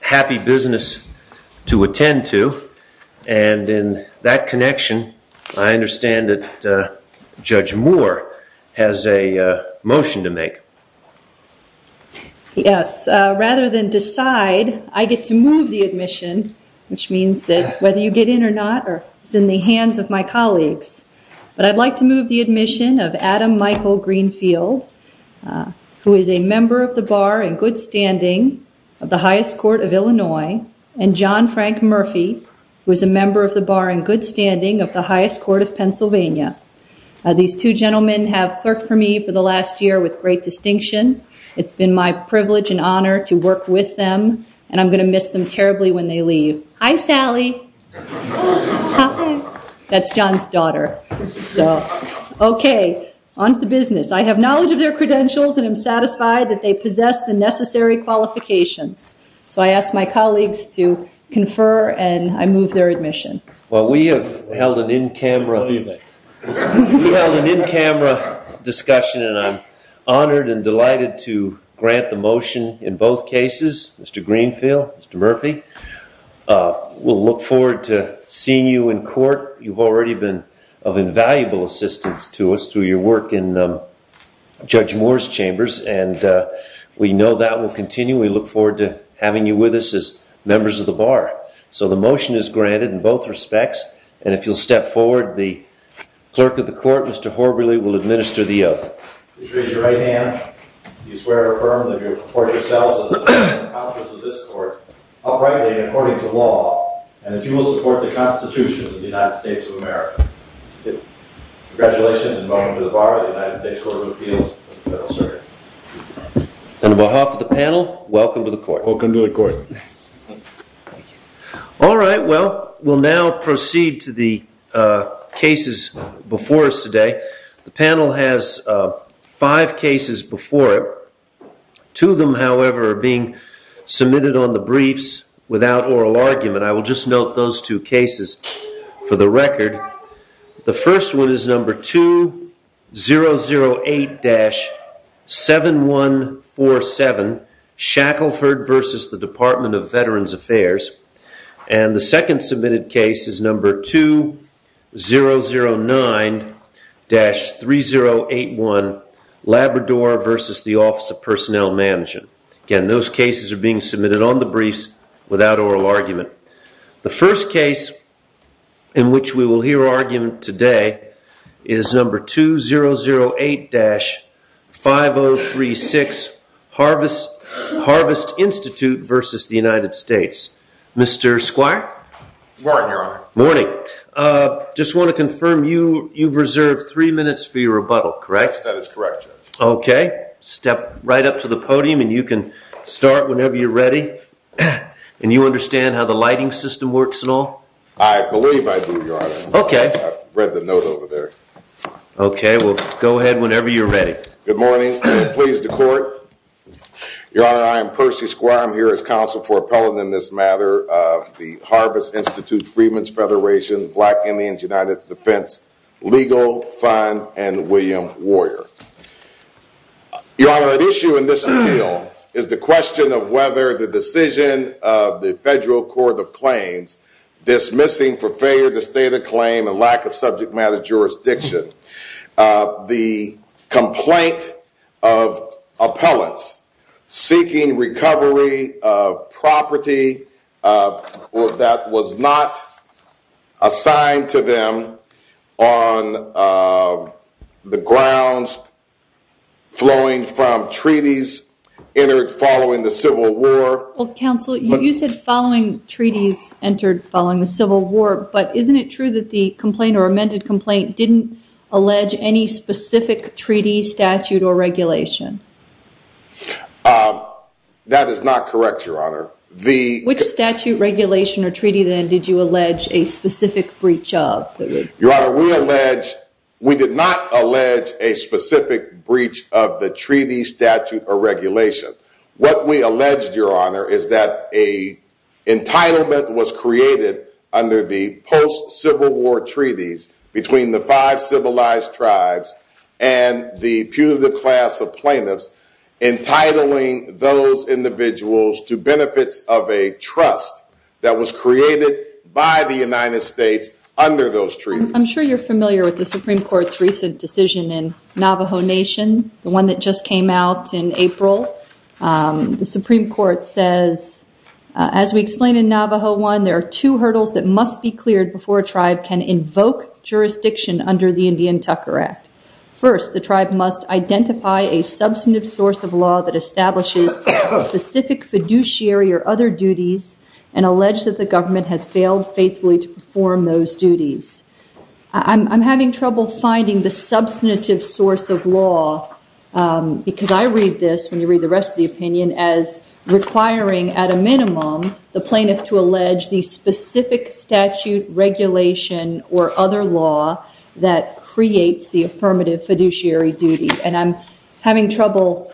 happy business to attend to and in that connection I understand that Judge Moore has a motion to make yes rather than decide I get to move the admission which means that whether you get in or not or it's in the hands of my colleagues but I'd like to move the admission of Adam Michael Greenfield who is a member of the bar in good standing of the highest court of Illinois and John Frank Murphy who is a member of the bar in good standing of the highest court of Pennsylvania these two gentlemen have clerked for me for the last year with great distinction it's been my privilege and honor to work with them and I'm gonna miss them terribly when they leave I'm Sally that's John's daughter so okay on to the business I have knowledge of their credentials and I'm satisfied that they possess the necessary qualifications so I asked my colleagues to confer and I move their admission well we have held an in-camera camera discussion and I'm honored and delighted to grant the motion in both cases mr. Greenfield mr. Murphy we'll look forward to seeing you in court you've already been of invaluable assistance to us through your work in Judge Moore's chambers and we know that will continue we look forward to having you with us as members of the bar so the motion is granted in both respects and if you'll step forward the clerk of the court mr. Horribly will administer the oath and behalf of the panel welcome to the court welcome to the court all right well we'll now proceed to the cases before us today the panel has five cases before it to them however are being submitted on the briefs without oral argument I will just note those two cases for the record the first one is number 2008-7147 Shackleford versus the Department of Veterans Affairs and the second submitted case is number 2009-3081 Labrador versus the Office of Personnel Management again those cases are being submitted on the briefs the first case in which we will hear argument today is number 2008-5036 harvest Harvest Institute versus the United States mr. Squire morning just want to confirm you you've reserved three minutes for your rebuttal correct that is correct okay step right up to the podium and you can start whenever you're ready and you understand how the lighting system works at all I believe I do okay read the note over there okay well go ahead whenever you're ready good morning please the court your honor I am Percy square I'm here as counsel for appellate in this matter the Harvest Institute Freedmen's Federation black Indians United Defense legal fund and William warrior your honor an issue in this appeal is the question of whether the decision of the federal court of claims dismissing for failure to state a claim and lack of subject matter jurisdiction the complaint of appellants seeking recovery of property or that was not assigned to them on the grounds flowing from treaties entered following the Civil War counsel you said following treaties entered following the Civil War but isn't it true that the complaint or amended complaint didn't allege any specific treaty statute or regulation that is not correct your honor the which regulation or treaty then did you allege a specific breach of your honor we alleged we did not allege a specific breach of the treaty statute or regulation what we alleged your honor is that a entitlement was created under the post-civil war treaties between the five civilized tribes and the punitive class of plaintiffs entitling those individuals to benefits of a trust that was created by the United States under those trees I'm sure you're familiar with the Supreme Court's recent decision in Navajo Nation the one that just came out in April the Supreme Court says as we explain in Navajo one there are two hurdles that must be cleared before tribe can invoke jurisdiction under the substantive source of law that establishes specific fiduciary or other duties and alleged that the government has failed faithfully to perform those duties I'm having trouble finding the substantive source of law because I read this when you read the rest of the opinion as requiring at a minimum the plaintiff to allege the specific statute regulation or other law that creates the trouble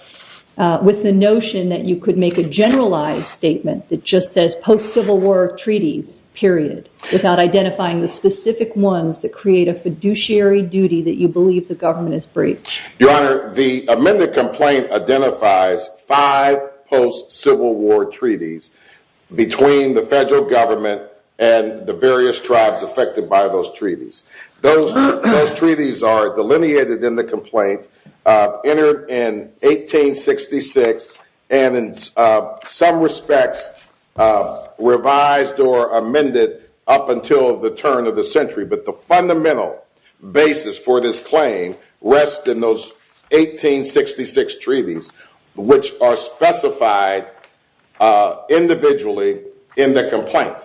with the notion that you could make a generalized statement that just says post-civil war treaties period without identifying the specific ones that create a fiduciary duty that you believe the government is breach your honor the amended complaint identifies five post-civil war treaties between the federal government and the various tribes affected by those treaties those treaties are delineated in the complaint entered in 1866 and in some respects revised or amended up until the turn of the century but the fundamental basis for this claim rest in those 1866 treaties which are specified individually in the complaint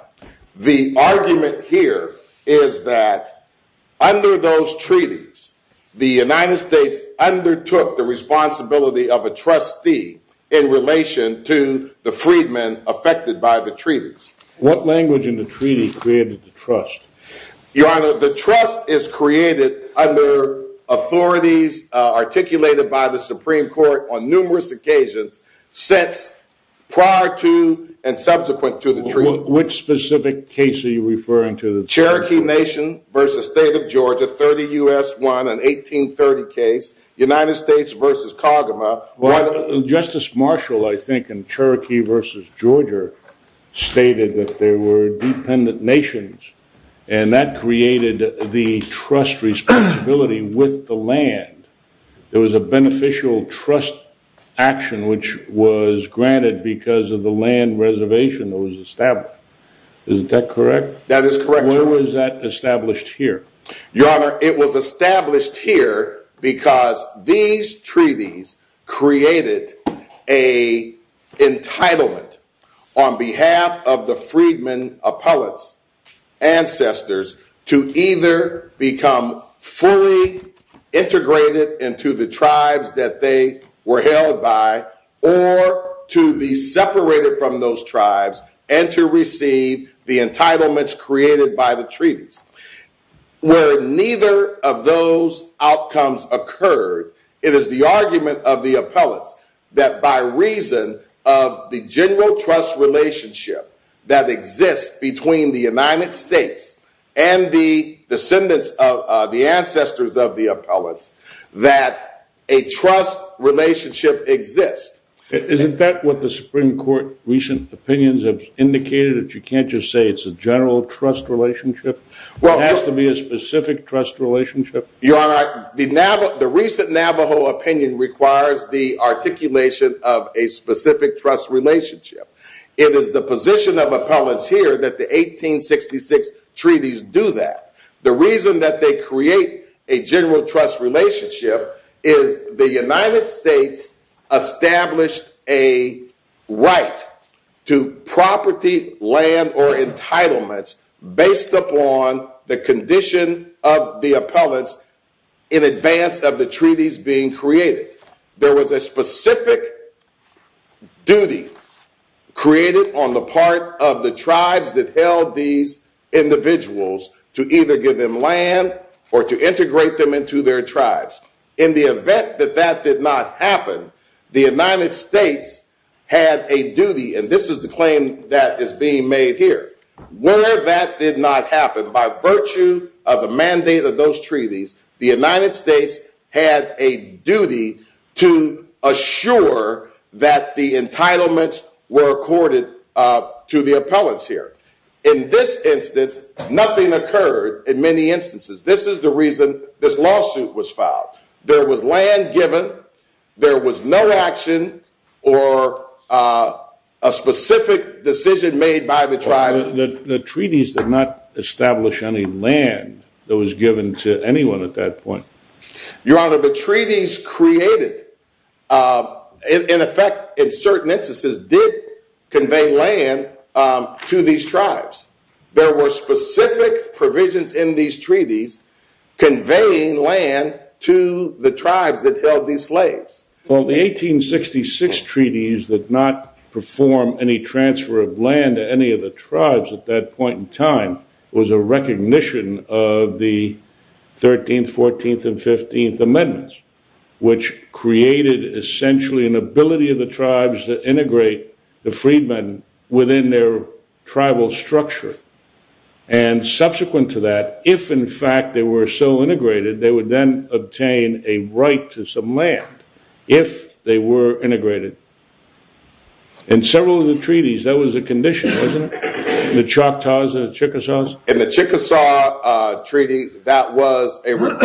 the argument here is that under those treaties the United States undertook the responsibility of a trustee in relation to the freedmen affected by the treaties what language in the treaty created the trust your honor the trust is created under authorities articulated by the prior to and subsequent to the treaty. Which specific case are you referring to? The Cherokee Nation versus State of Georgia 30 US 1 and 1830 case United States versus Kagama. Well Justice Marshall I think in Cherokee versus Georgia stated that there were dependent nations and that created the trust responsibility with the land there was a beneficial trust action which was granted because of the land reservation that was established. Isn't that correct? That is correct. Where was that established here? Your honor it was established here because these treaties created a entitlement on behalf of the freedmen appellate's ancestors to either become fully integrated into the tribes that they were held by or to be separated from those tribes and to receive the entitlements created by the treaties. Where neither of those outcomes occurred it is the argument of the appellate's that by reason of the general trust relationship that exists between the United States and the descendants of the ancestors of the appellate's that a trust relationship exists. Isn't that what the Supreme Court recent opinions have indicated that you can't just say it's a general trust relationship? Well it has to be a specific trust relationship? Your honor the recent Navajo opinion requires the articulation of a specific trust relationship. It is the position of a general trust relationship is the United States established a right to property land or entitlements based upon the condition of the appellate's in advance of the treaties being created. There was a specific duty created on the part of the tribes that held these individuals to either give them land or to integrate them into their tribes. In the event that that did not happen the United States had a duty and this is the claim that is being made here. Where that did not happen by virtue of the mandate of those treaties the United States had a duty to assure that the entitlements were accorded to the appellate's here. In this instance nothing occurred in many instances. This is the reason this lawsuit was filed. There was land given, there was no action or a specific decision made by the tribes. The treaties did not establish any land that was given to anyone at that point. Your honor the treaties created in effect in these tribes. There were specific provisions in these treaties conveying land to the tribes that held these slaves. Well the 1866 treaties that not perform any transfer of land to any of the tribes at that point in time was a recognition of the 13th, 14th, and 15th amendments which created essentially an within their tribal structure and subsequent to that if in fact they were so integrated they would then obtain a right to some land if they were integrated. In several of the treaties that was a condition wasn't it? The Choctaws and the Chickasaws. In the Chickasaw treaty that was a rule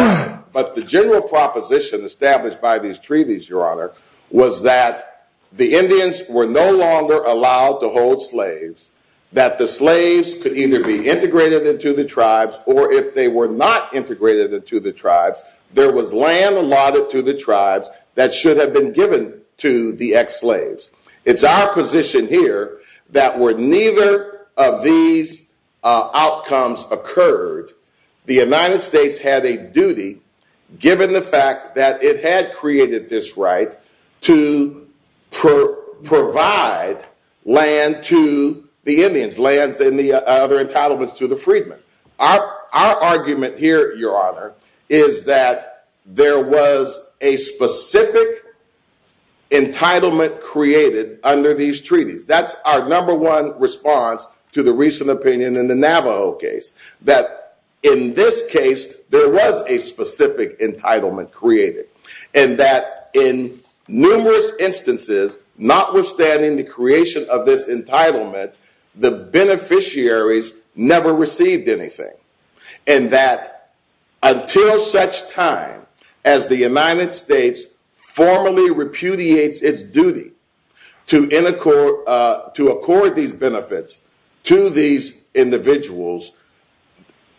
but the general proposition established by these treaties your honor was that the Indians were no longer allowed to hold slaves. That the slaves could either be integrated into the tribes or if they were not integrated into the tribes there was land allotted to the tribes that should have been given to the ex-slaves. It's our position here that were neither of these outcomes occurred the United States had a duty given the fact that it had created this right to provide land to the Indians lands and the other entitlements to the freedmen. Our argument here your honor is that there was a specific entitlement created under these treaties. That's our number one response to the recent opinion in the Navajo case that in this case there was a specific entitlement created and that in numerous instances notwithstanding the creation of this entitlement the beneficiaries never received anything and that until such time as the United States formally repudiates its duty to in accord to accord these benefits to these individuals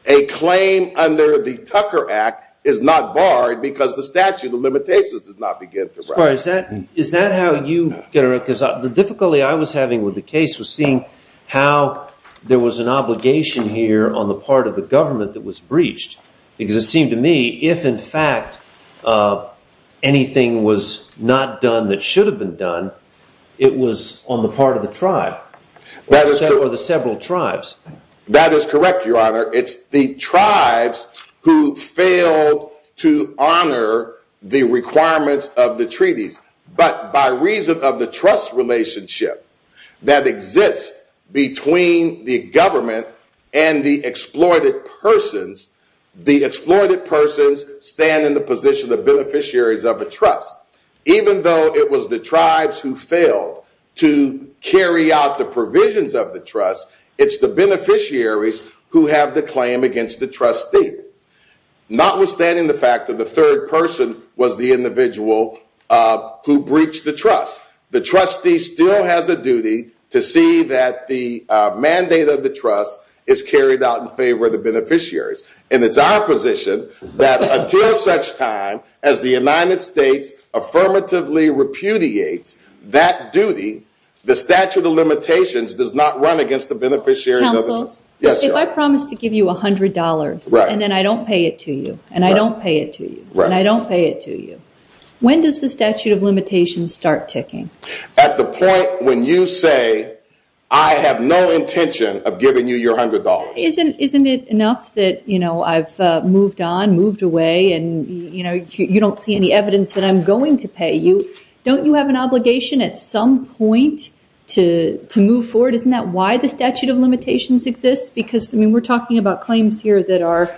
a claim under the Tucker Act is not barred because the statute of limitations did not begin to rise. Is that how you get it because the difficulty I was having with the case was seeing how there was an obligation here on the part of the government that was breached because it seemed to me if in fact anything was not done that should have been done it was on the part of the tribe that is that were the several tribes. That is correct your honor it's the tribes who failed to honor the requirements of the treaties but by reason of the trust relationship that exists between the government and the exploited persons the exploited persons stand in the position of beneficiaries of a trust even though it was the tribes who failed to carry out the provisions of the trust it's the beneficiaries who have the claim against the trustee notwithstanding the fact that the third person was the individual who breached the trust the trustee still has a duty to see that the mandate of the trust is carried out in favor of the beneficiaries and it's our position that until such time as the United States affirmatively repudiates that duty the statute of limitations does not run against the beneficiaries. If I promise to give you a hundred dollars and then I don't pay it to you and I don't pay it to you and I don't pay it to you when does the statute of limitations start ticking? At the point when you say I have no intention of giving you your hundred dollars. Isn't isn't it enough that you know I've moved on moved away and you know you don't see any evidence that I'm going to pay you don't you have an obligation at some point to to move forward isn't that why the statute of limitations exists because I mean we're talking about claims here that are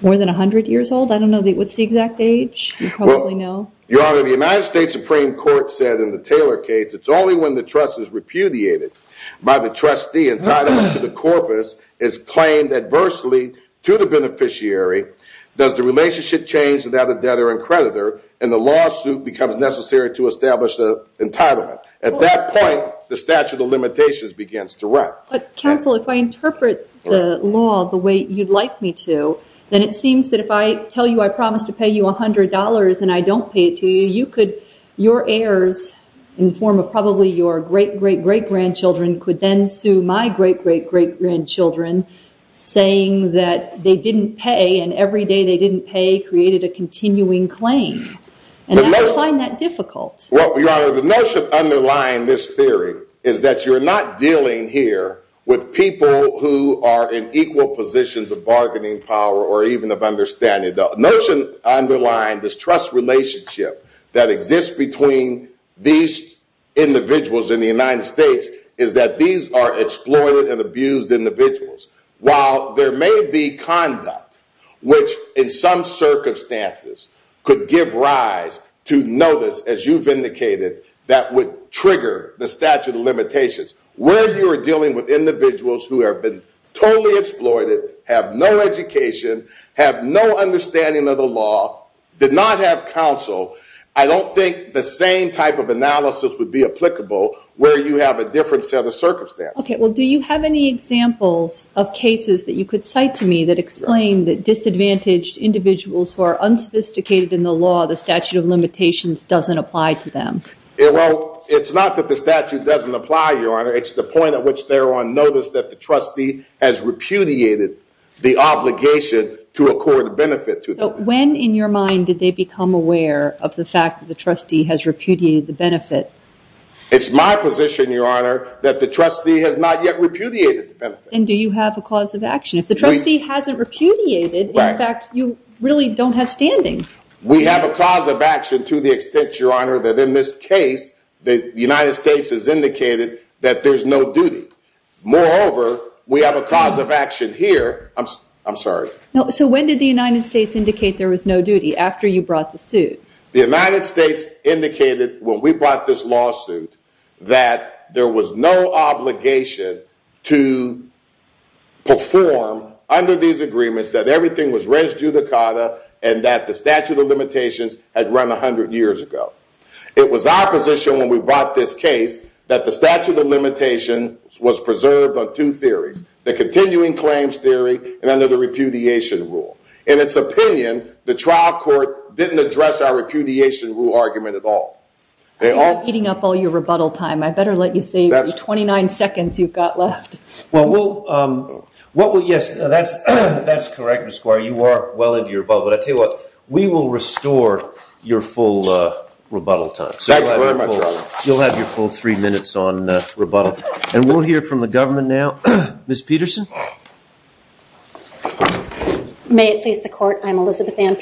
more than a hundred years old I don't know that what's the exact age? You probably know. Your honor the United States Supreme Court said in the Taylor case it's only when the trust is repudiated by the trustee entitled to the corpus is claimed adversely to the beneficiary does the lawsuit becomes necessary to establish the entitlement. At that point the statute of limitations begins to run. But counsel if I interpret the law the way you'd like me to then it seems that if I tell you I promise to pay you $100 and I don't pay it to you you could your heirs in form of probably your great great great grandchildren could then sue my great great great grandchildren saying that they didn't pay and every day they didn't pay created a continuing claim and I find that difficult. Well your honor the notion underlying this theory is that you're not dealing here with people who are in equal positions of bargaining power or even of understanding. The notion underlying this trust relationship that exists between these individuals in the United States is that these are exploited and abused individuals. While there may be conduct which in some circumstances could give rise to notice as you've indicated that would trigger the statute of limitations where you are dealing with individuals who have been totally exploited, have no education, have no understanding of the law, did not have counsel, I don't think the same type of analysis would be applicable where you have a different set of circumstances. Okay well do you have any examples of cases that you could cite to me that explain that disadvantaged individuals who are unsophisticated in the law the statute of limitations doesn't apply to them? Well it's not that the statute doesn't apply your honor it's the point at which they're on notice that the trustee has repudiated the obligation to accord benefit to them. When in your mind did they become aware of the fact that the trustee has repudiated the benefit? It's my position your honor that the trustee has not yet repudiated the benefit. And do you have a cause of action if the trustee hasn't repudiated in fact you really don't have standing? We have a cause of action to the extent your honor that in this case the United States has indicated that there's no duty. Moreover we have a cause of action here I'm sorry. So when did the United States indicate there was no duty after you brought the suit? The United States indicated when we brought this lawsuit that there was no obligation to perform under these agreements that everything was res judicata and that the statute of limitations had run a hundred years ago. It was our position when we brought this case that the statute of limitations was preserved on two theories the continuing claims theory and under the repudiation rule. In its all. They are eating up all your rebuttal time I better let you say that's 29 seconds you've got left. Well yes that's that's correct Mr. Squire you are well into your rebuttal but I tell you what we will restore your full rebuttal time. You'll have your full three minutes on rebuttal and we'll hear from the government now. Ms. Peterson. May it please the court I'm Elizabeth Ann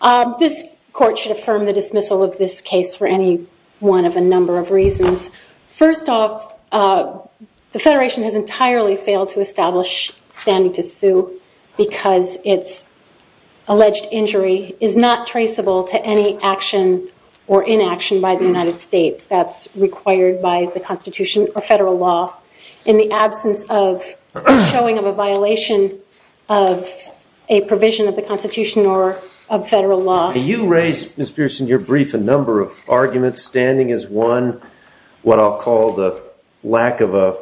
I should affirm the dismissal of this case for any one of a number of reasons. First off the Federation has entirely failed to establish standing to sue because it's alleged injury is not traceable to any action or inaction by the United States that's required by the Constitution or federal law in the absence of showing of a violation of a provision of the Constitution or of Miss Pearson your brief a number of arguments standing is one what I'll call the lack of a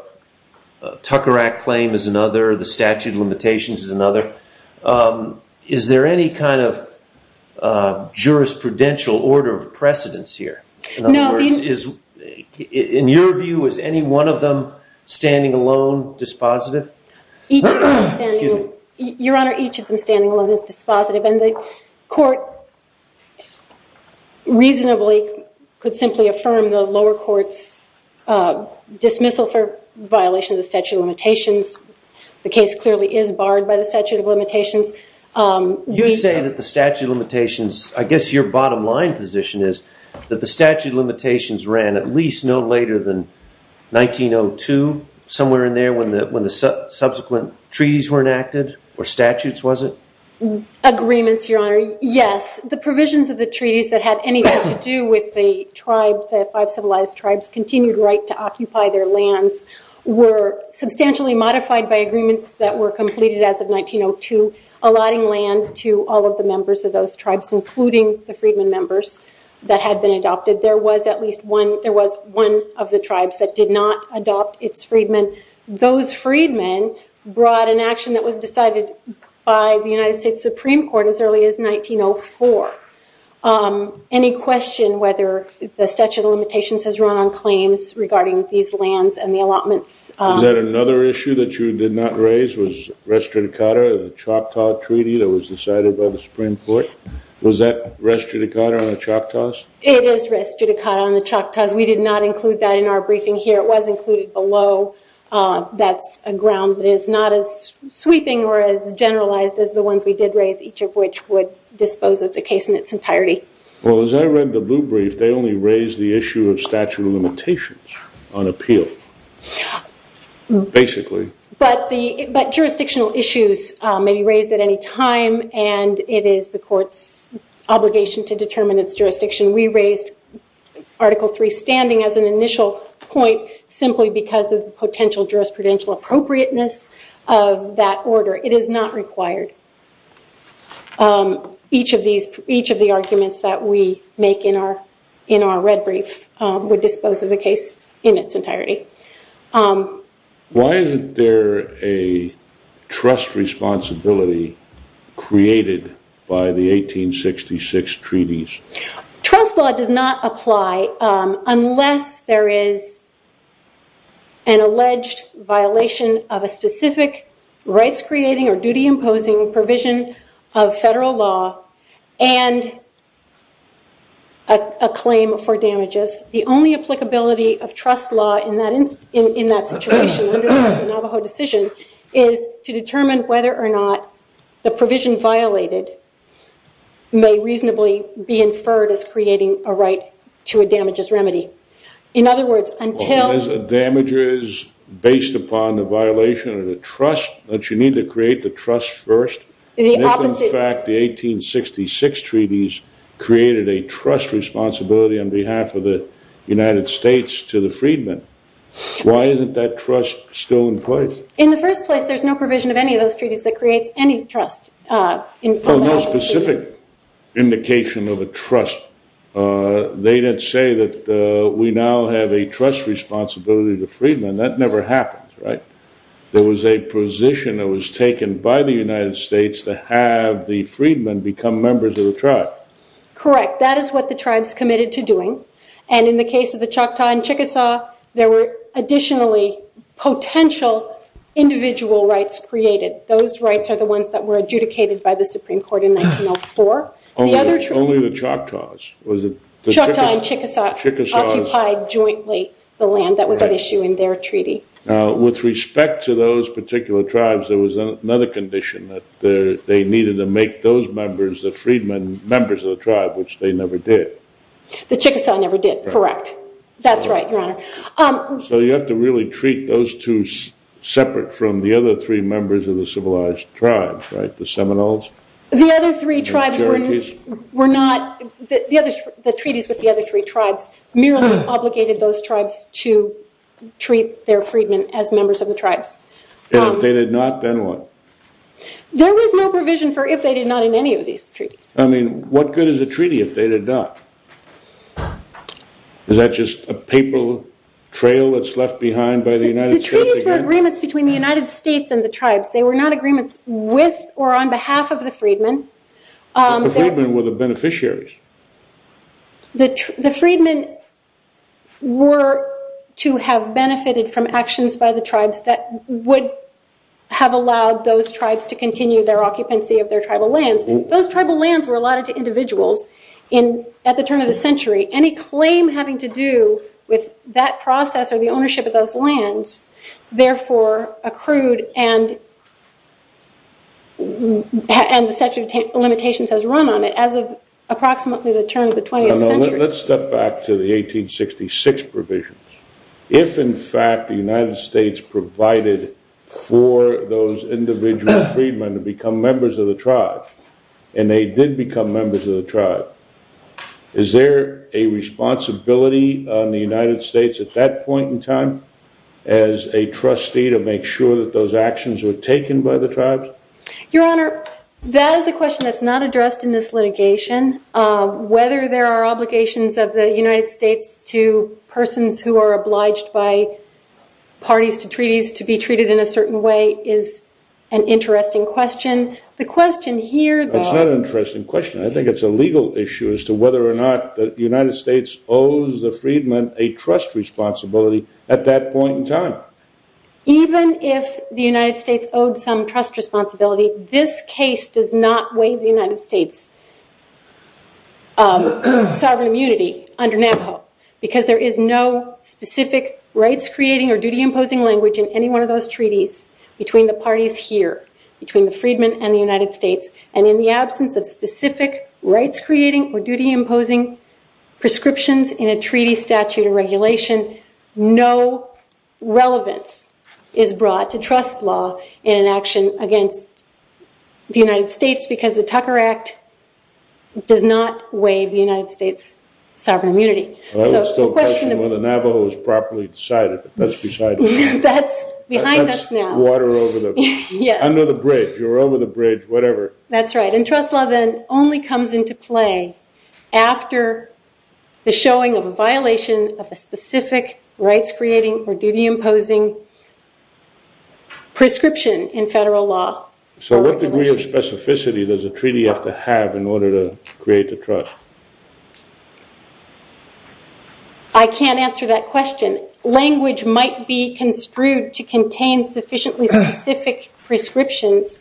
tucker act claim is another the statute of limitations is another. Is there any kind of jurisprudential order of precedence here? No. In your view is any one of them standing alone dispositive. Your Honor each of them standing alone is dispositive and the court reasonably could simply affirm the lower courts dismissal for violation of statute of limitations. The case clearly is barred by the statute of limitations. You say that the statute of limitations I guess your bottom line position is that the statute of limitations ran at least no later than 1902 somewhere in there when the subsequent treaties were enacted or statutes was it? Agreements your Honor yes the provisions of the treaties that had anything to do with the tribe the five civilized tribes continued right to occupy their lands were substantially modified by agreements that were completed as of 1902 allotting land to all of the members of those tribes including the freedmen members that had been adopted there was at least one there was one of the tribes that did not adopt its freedmen. Those freedmen brought an action that was decided by the United States Supreme Court as early as 1904. Any question whether the statute of limitations has run on claims regarding these lands and the allotment? Is that another issue that you did not raise was restrict cutter the Choctaw Treaty that was decided by the Supreme Court? Was that restrict a cutter on the Choctaws? It is restrict a cutter on the Choctaws. We did not include that in our brief. That's a ground that is not as sweeping or as generalized as the ones we did raise each of which would dispose of the case in its entirety. Well as I read the blue brief they only raised the issue of statute of limitations on appeal basically. But the but jurisdictional issues may be raised at any time and it is the courts obligation to determine its jurisdiction. We raised Article 3 standing as an initial point simply because of potential jurisprudential appropriateness of that order. It is not required. Each of these each of the arguments that we make in our in our red brief would dispose of the case in its entirety. Why is there a trust responsibility created by the 1866 treaties? Trust law does not apply unless there is an alleged violation of a specific rights creating or duty imposing provision of federal law and a claim for damages. The only applicability of trust law in that instance in that situation the Navajo decision is to determine whether or not the provision violated may reasonably be inferred as creating a right to a damages remedy. In other words until... There's a damages based upon the violation of the trust that you need to create the trust first? In the opposite... In fact the 1866 treaties created a trust responsibility on behalf of the United States to the freedmen. Why isn't that trust still in place? In the first place there's no provision of any of the 1866 treaties that creates any trust. No specific indication of a trust. They did say that we now have a trust responsibility to the freedmen. That never happens, right? There was a position that was taken by the United States to have the freedmen become members of the tribe. Correct, that is what the tribes committed to doing and in the case of the Choctaw and Chickasaw there were additionally potential individual rights created. Those rights are the ones that were adjudicated by the Supreme Court in 1904. Only the Choctaws? The Choctaw and Chickasaw occupied jointly the land that was at issue in their treaty. Now with respect to those particular tribes there was another condition that they needed to make those members the freedmen members of the tribe which they never did. The Chickasaw never did, correct. That's right, your honor. So you have to really treat those two separate from the other three members of the civilized tribes, right? The Seminoles? The other three tribes were not, the treaties with the other three tribes merely obligated those tribes to treat their freedmen as members of the tribes. And if they did not, then what? There was no provision for if they did not in any of these treaties. I mean what good is a treaty if they did not? Is that just a papal trail that's left behind by the United States? The treaties were agreements between the United States and the tribes. They were not agreements with or on behalf of the freedmen. The freedmen were the beneficiaries. The freedmen were to have benefited from actions by the tribes that would have allowed those tribes to continue their occupancy of their tribal lands. Those tribal lands were allotted to individuals at the turn of the century. Any claim having to do with that process or the ownership of those lands therefore accrued and the statute of limitations has run on it as of approximately the turn of the 20th century. Let's step back to the 1866 provisions. If in fact the United States provided for those individual freedmen to become members of the tribe, and they did become members of the tribe, is there a responsibility on the United States at that point in time as a trustee to make sure that those actions were taken by the tribes? Your Honor, that is a question that's not addressed in this litigation. Whether there are obligations of the United States to persons who are obliged by parties to treaties to be treated in a certain way is an interesting question. The question here, though… It's not an interesting question. I think it's a legal issue as to whether or not the United States owes the freedmen a trust responsibility at that point in time. Even if the United States owed some trust responsibility, this case does not waive the United States' sovereign immunity under Navajo because there is no specific rights-creating or duty-imposing language in any one of those treaties between the parties here, between the freedmen and the United States, and in the absence of specific rights-creating or duty-imposing prescriptions in a treaty statute or regulation, no relevance is brought to trust law in an action against the United States because the Tucker Act does not waive the United States' sovereign immunity. Well, that was still a question of whether Navajo was properly decided, but that's beside the point. That's behind us now. That's water under the bridge or over the bridge, whatever. That's right, and trust law then only comes into play after the showing of a violation of a specific rights-creating or duty-imposing prescription in federal law. So what degree of specificity does a treaty have to have in order to create a trust? I can't answer that question. Language might be construed to contain sufficiently specific prescriptions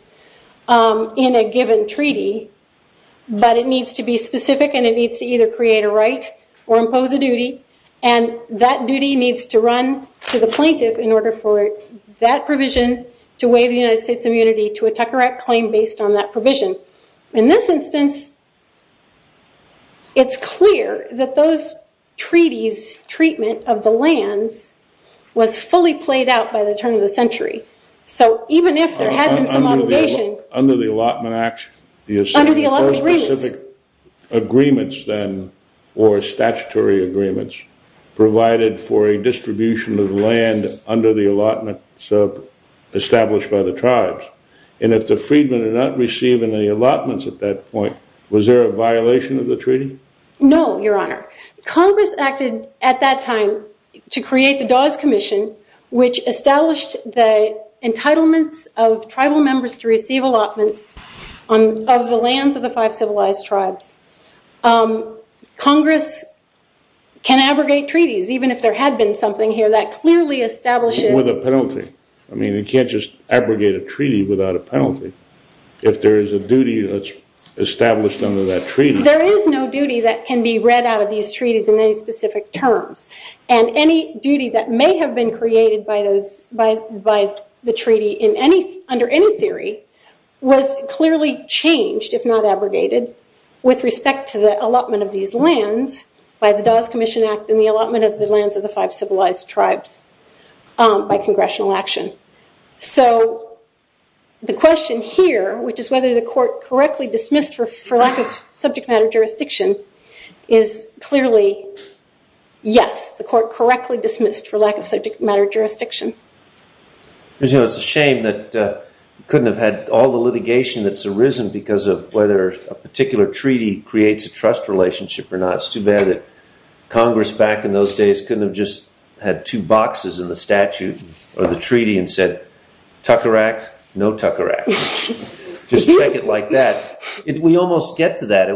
in a given treaty, but it needs to be specific and it needs to either create a right or impose a duty, and that duty needs to run to the plaintiff in order for that provision to waive the United States' immunity to a Tucker Act claim based on that provision. In this instance, it's clear that those treaties' treatment of the lands was fully played out by the turn of the century. So even if there had been some obligation... Under the Allotment Act... Under the Allotment Agreements. Specific agreements then or statutory agreements provided for a distribution of land under the allotment established by the tribes, and if the freedmen are not receiving the allotments at that point, was there a violation of the treaty? No, Your Honor. Congress acted at that time to create the Dawes Commission, which established the entitlements of tribal members to receive allotments of the lands of the five civilized tribes. Congress can abrogate treaties, even if there had been something here that clearly establishes... With a penalty. I mean, you can't just abrogate a treaty without a penalty. If there is a duty that's established under that treaty... There is no duty that can be read out of these treaties in any specific terms, and any duty that may have been created by the treaty under any theory was clearly changed, if not abrogated, with respect to the allotment of these lands by the Dawes Commission Act and the allotment of the lands of the five civilized tribes by congressional action. So the question here, which is whether the court correctly dismissed for lack of subject matter jurisdiction, is clearly yes, the court correctly dismissed for lack of subject matter jurisdiction. It's a shame that we couldn't have had all the litigation that's arisen because of whether a particular treaty creates a trust relationship or not. It's too bad that Congress back in those days couldn't have just had two boxes in the statute or the treaty and said, Tucker Act, no Tucker Act. Just take it like that. We almost get to that.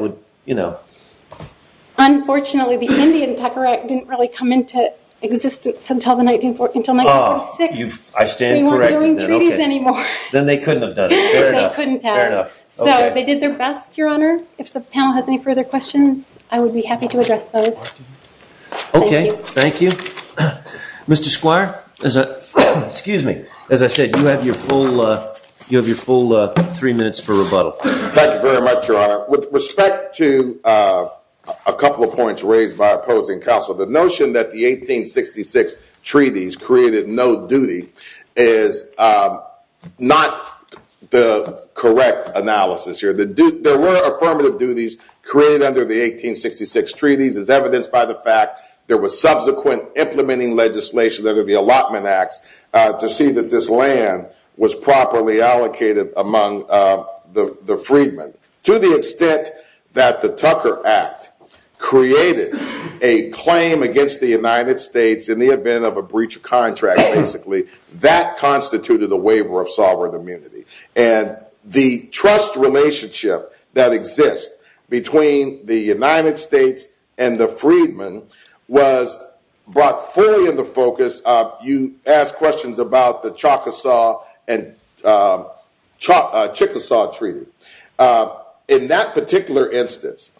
Unfortunately, the Indian Tucker Act didn't really come into existence until 1946. I stand corrected. We won't be doing treaties anymore. Then they couldn't have done it. They couldn't have. Fair enough. So they did their best, Your Honor. If the panel has any further questions, I would be happy to address those. Okay. Thank you. Mr. Squire, as I said, you have your full three minutes for rebuttal. Thank you very much, Your Honor. With respect to a couple of points raised by opposing counsel, the notion that the 1866 treaties created no duty is not the correct analysis here. There were affirmative duties created under the 1866 treaties. It's evidenced by the fact there was subsequent implementing legislation under the Allotment Acts to see that this land was properly allocated among the freedmen. To the extent that the Tucker Act created a claim against the United States in the event of a breach of contract, basically, that constituted a waiver of sovereign immunity. And the trust relationship that exists between the United States and the freedmen was brought fully into focus. You asked questions about the Chickasaw Treaty. In that particular instance,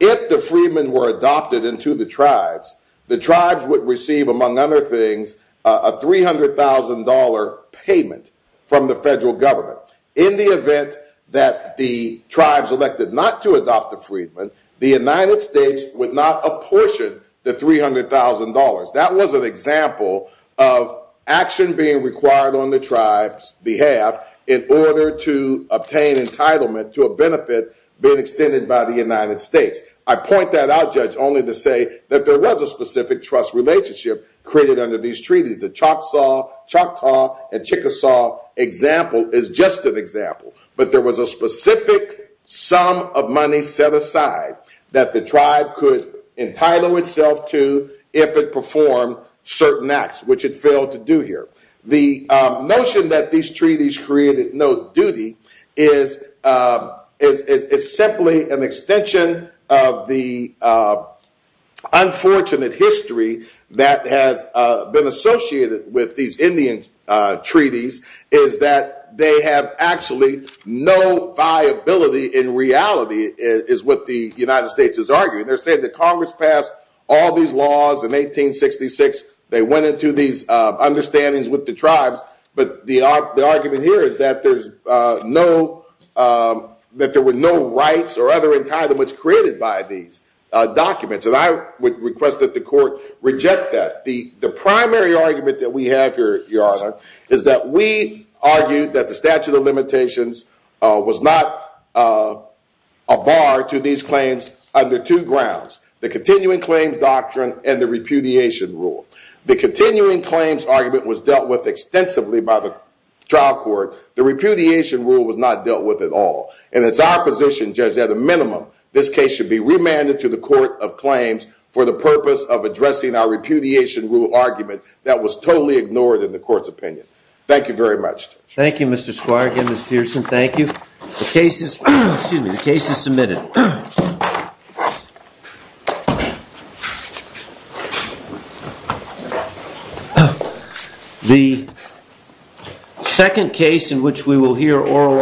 if the freedmen were adopted into the tribes, the tribes would receive, among other things, a $300,000 payment from the federal government. In the event that the tribes elected not to adopt the freedmen, the United States would not apportion the $300,000. That was an example of action being required on the tribe's behalf in order to obtain entitlement to a benefit being extended by the United States. I point that out, Judge, only to say that there was a specific trust relationship created under these treaties. The Choctaw and Chickasaw example is just an example. But there was a specific sum of money set aside that the tribe could entitle itself to if it performed certain acts, which it failed to do here. The notion that these treaties created no duty is simply an extension of the unfortunate history that has been associated with these Indian treaties, is that they have actually no viability in reality is what the United States is arguing. They're saying that Congress passed all these laws in 1866. They went into these understandings with the tribes. But the argument here is that there were no rights or other entitlements created by these documents. And I would request that the court reject that. The primary argument that we have here, Your Honor, is that we argue that the statute of limitations was not a bar to these claims under two grounds, the continuing claims doctrine and the repudiation rule. The continuing claims argument was dealt with extensively by the trial court. The repudiation rule was not dealt with at all. And it's our position, Judge, that at a minimum, this case should be remanded to the court of claims for the purpose of addressing our repudiation rule argument that was totally ignored in the court's opinion. Thank you very much. Thank you, Mr. Squire. Again, Ms. Pearson, thank you. The case is submitted. The second case in which we will hear oral arguments is the case in which we will hear oral arguments.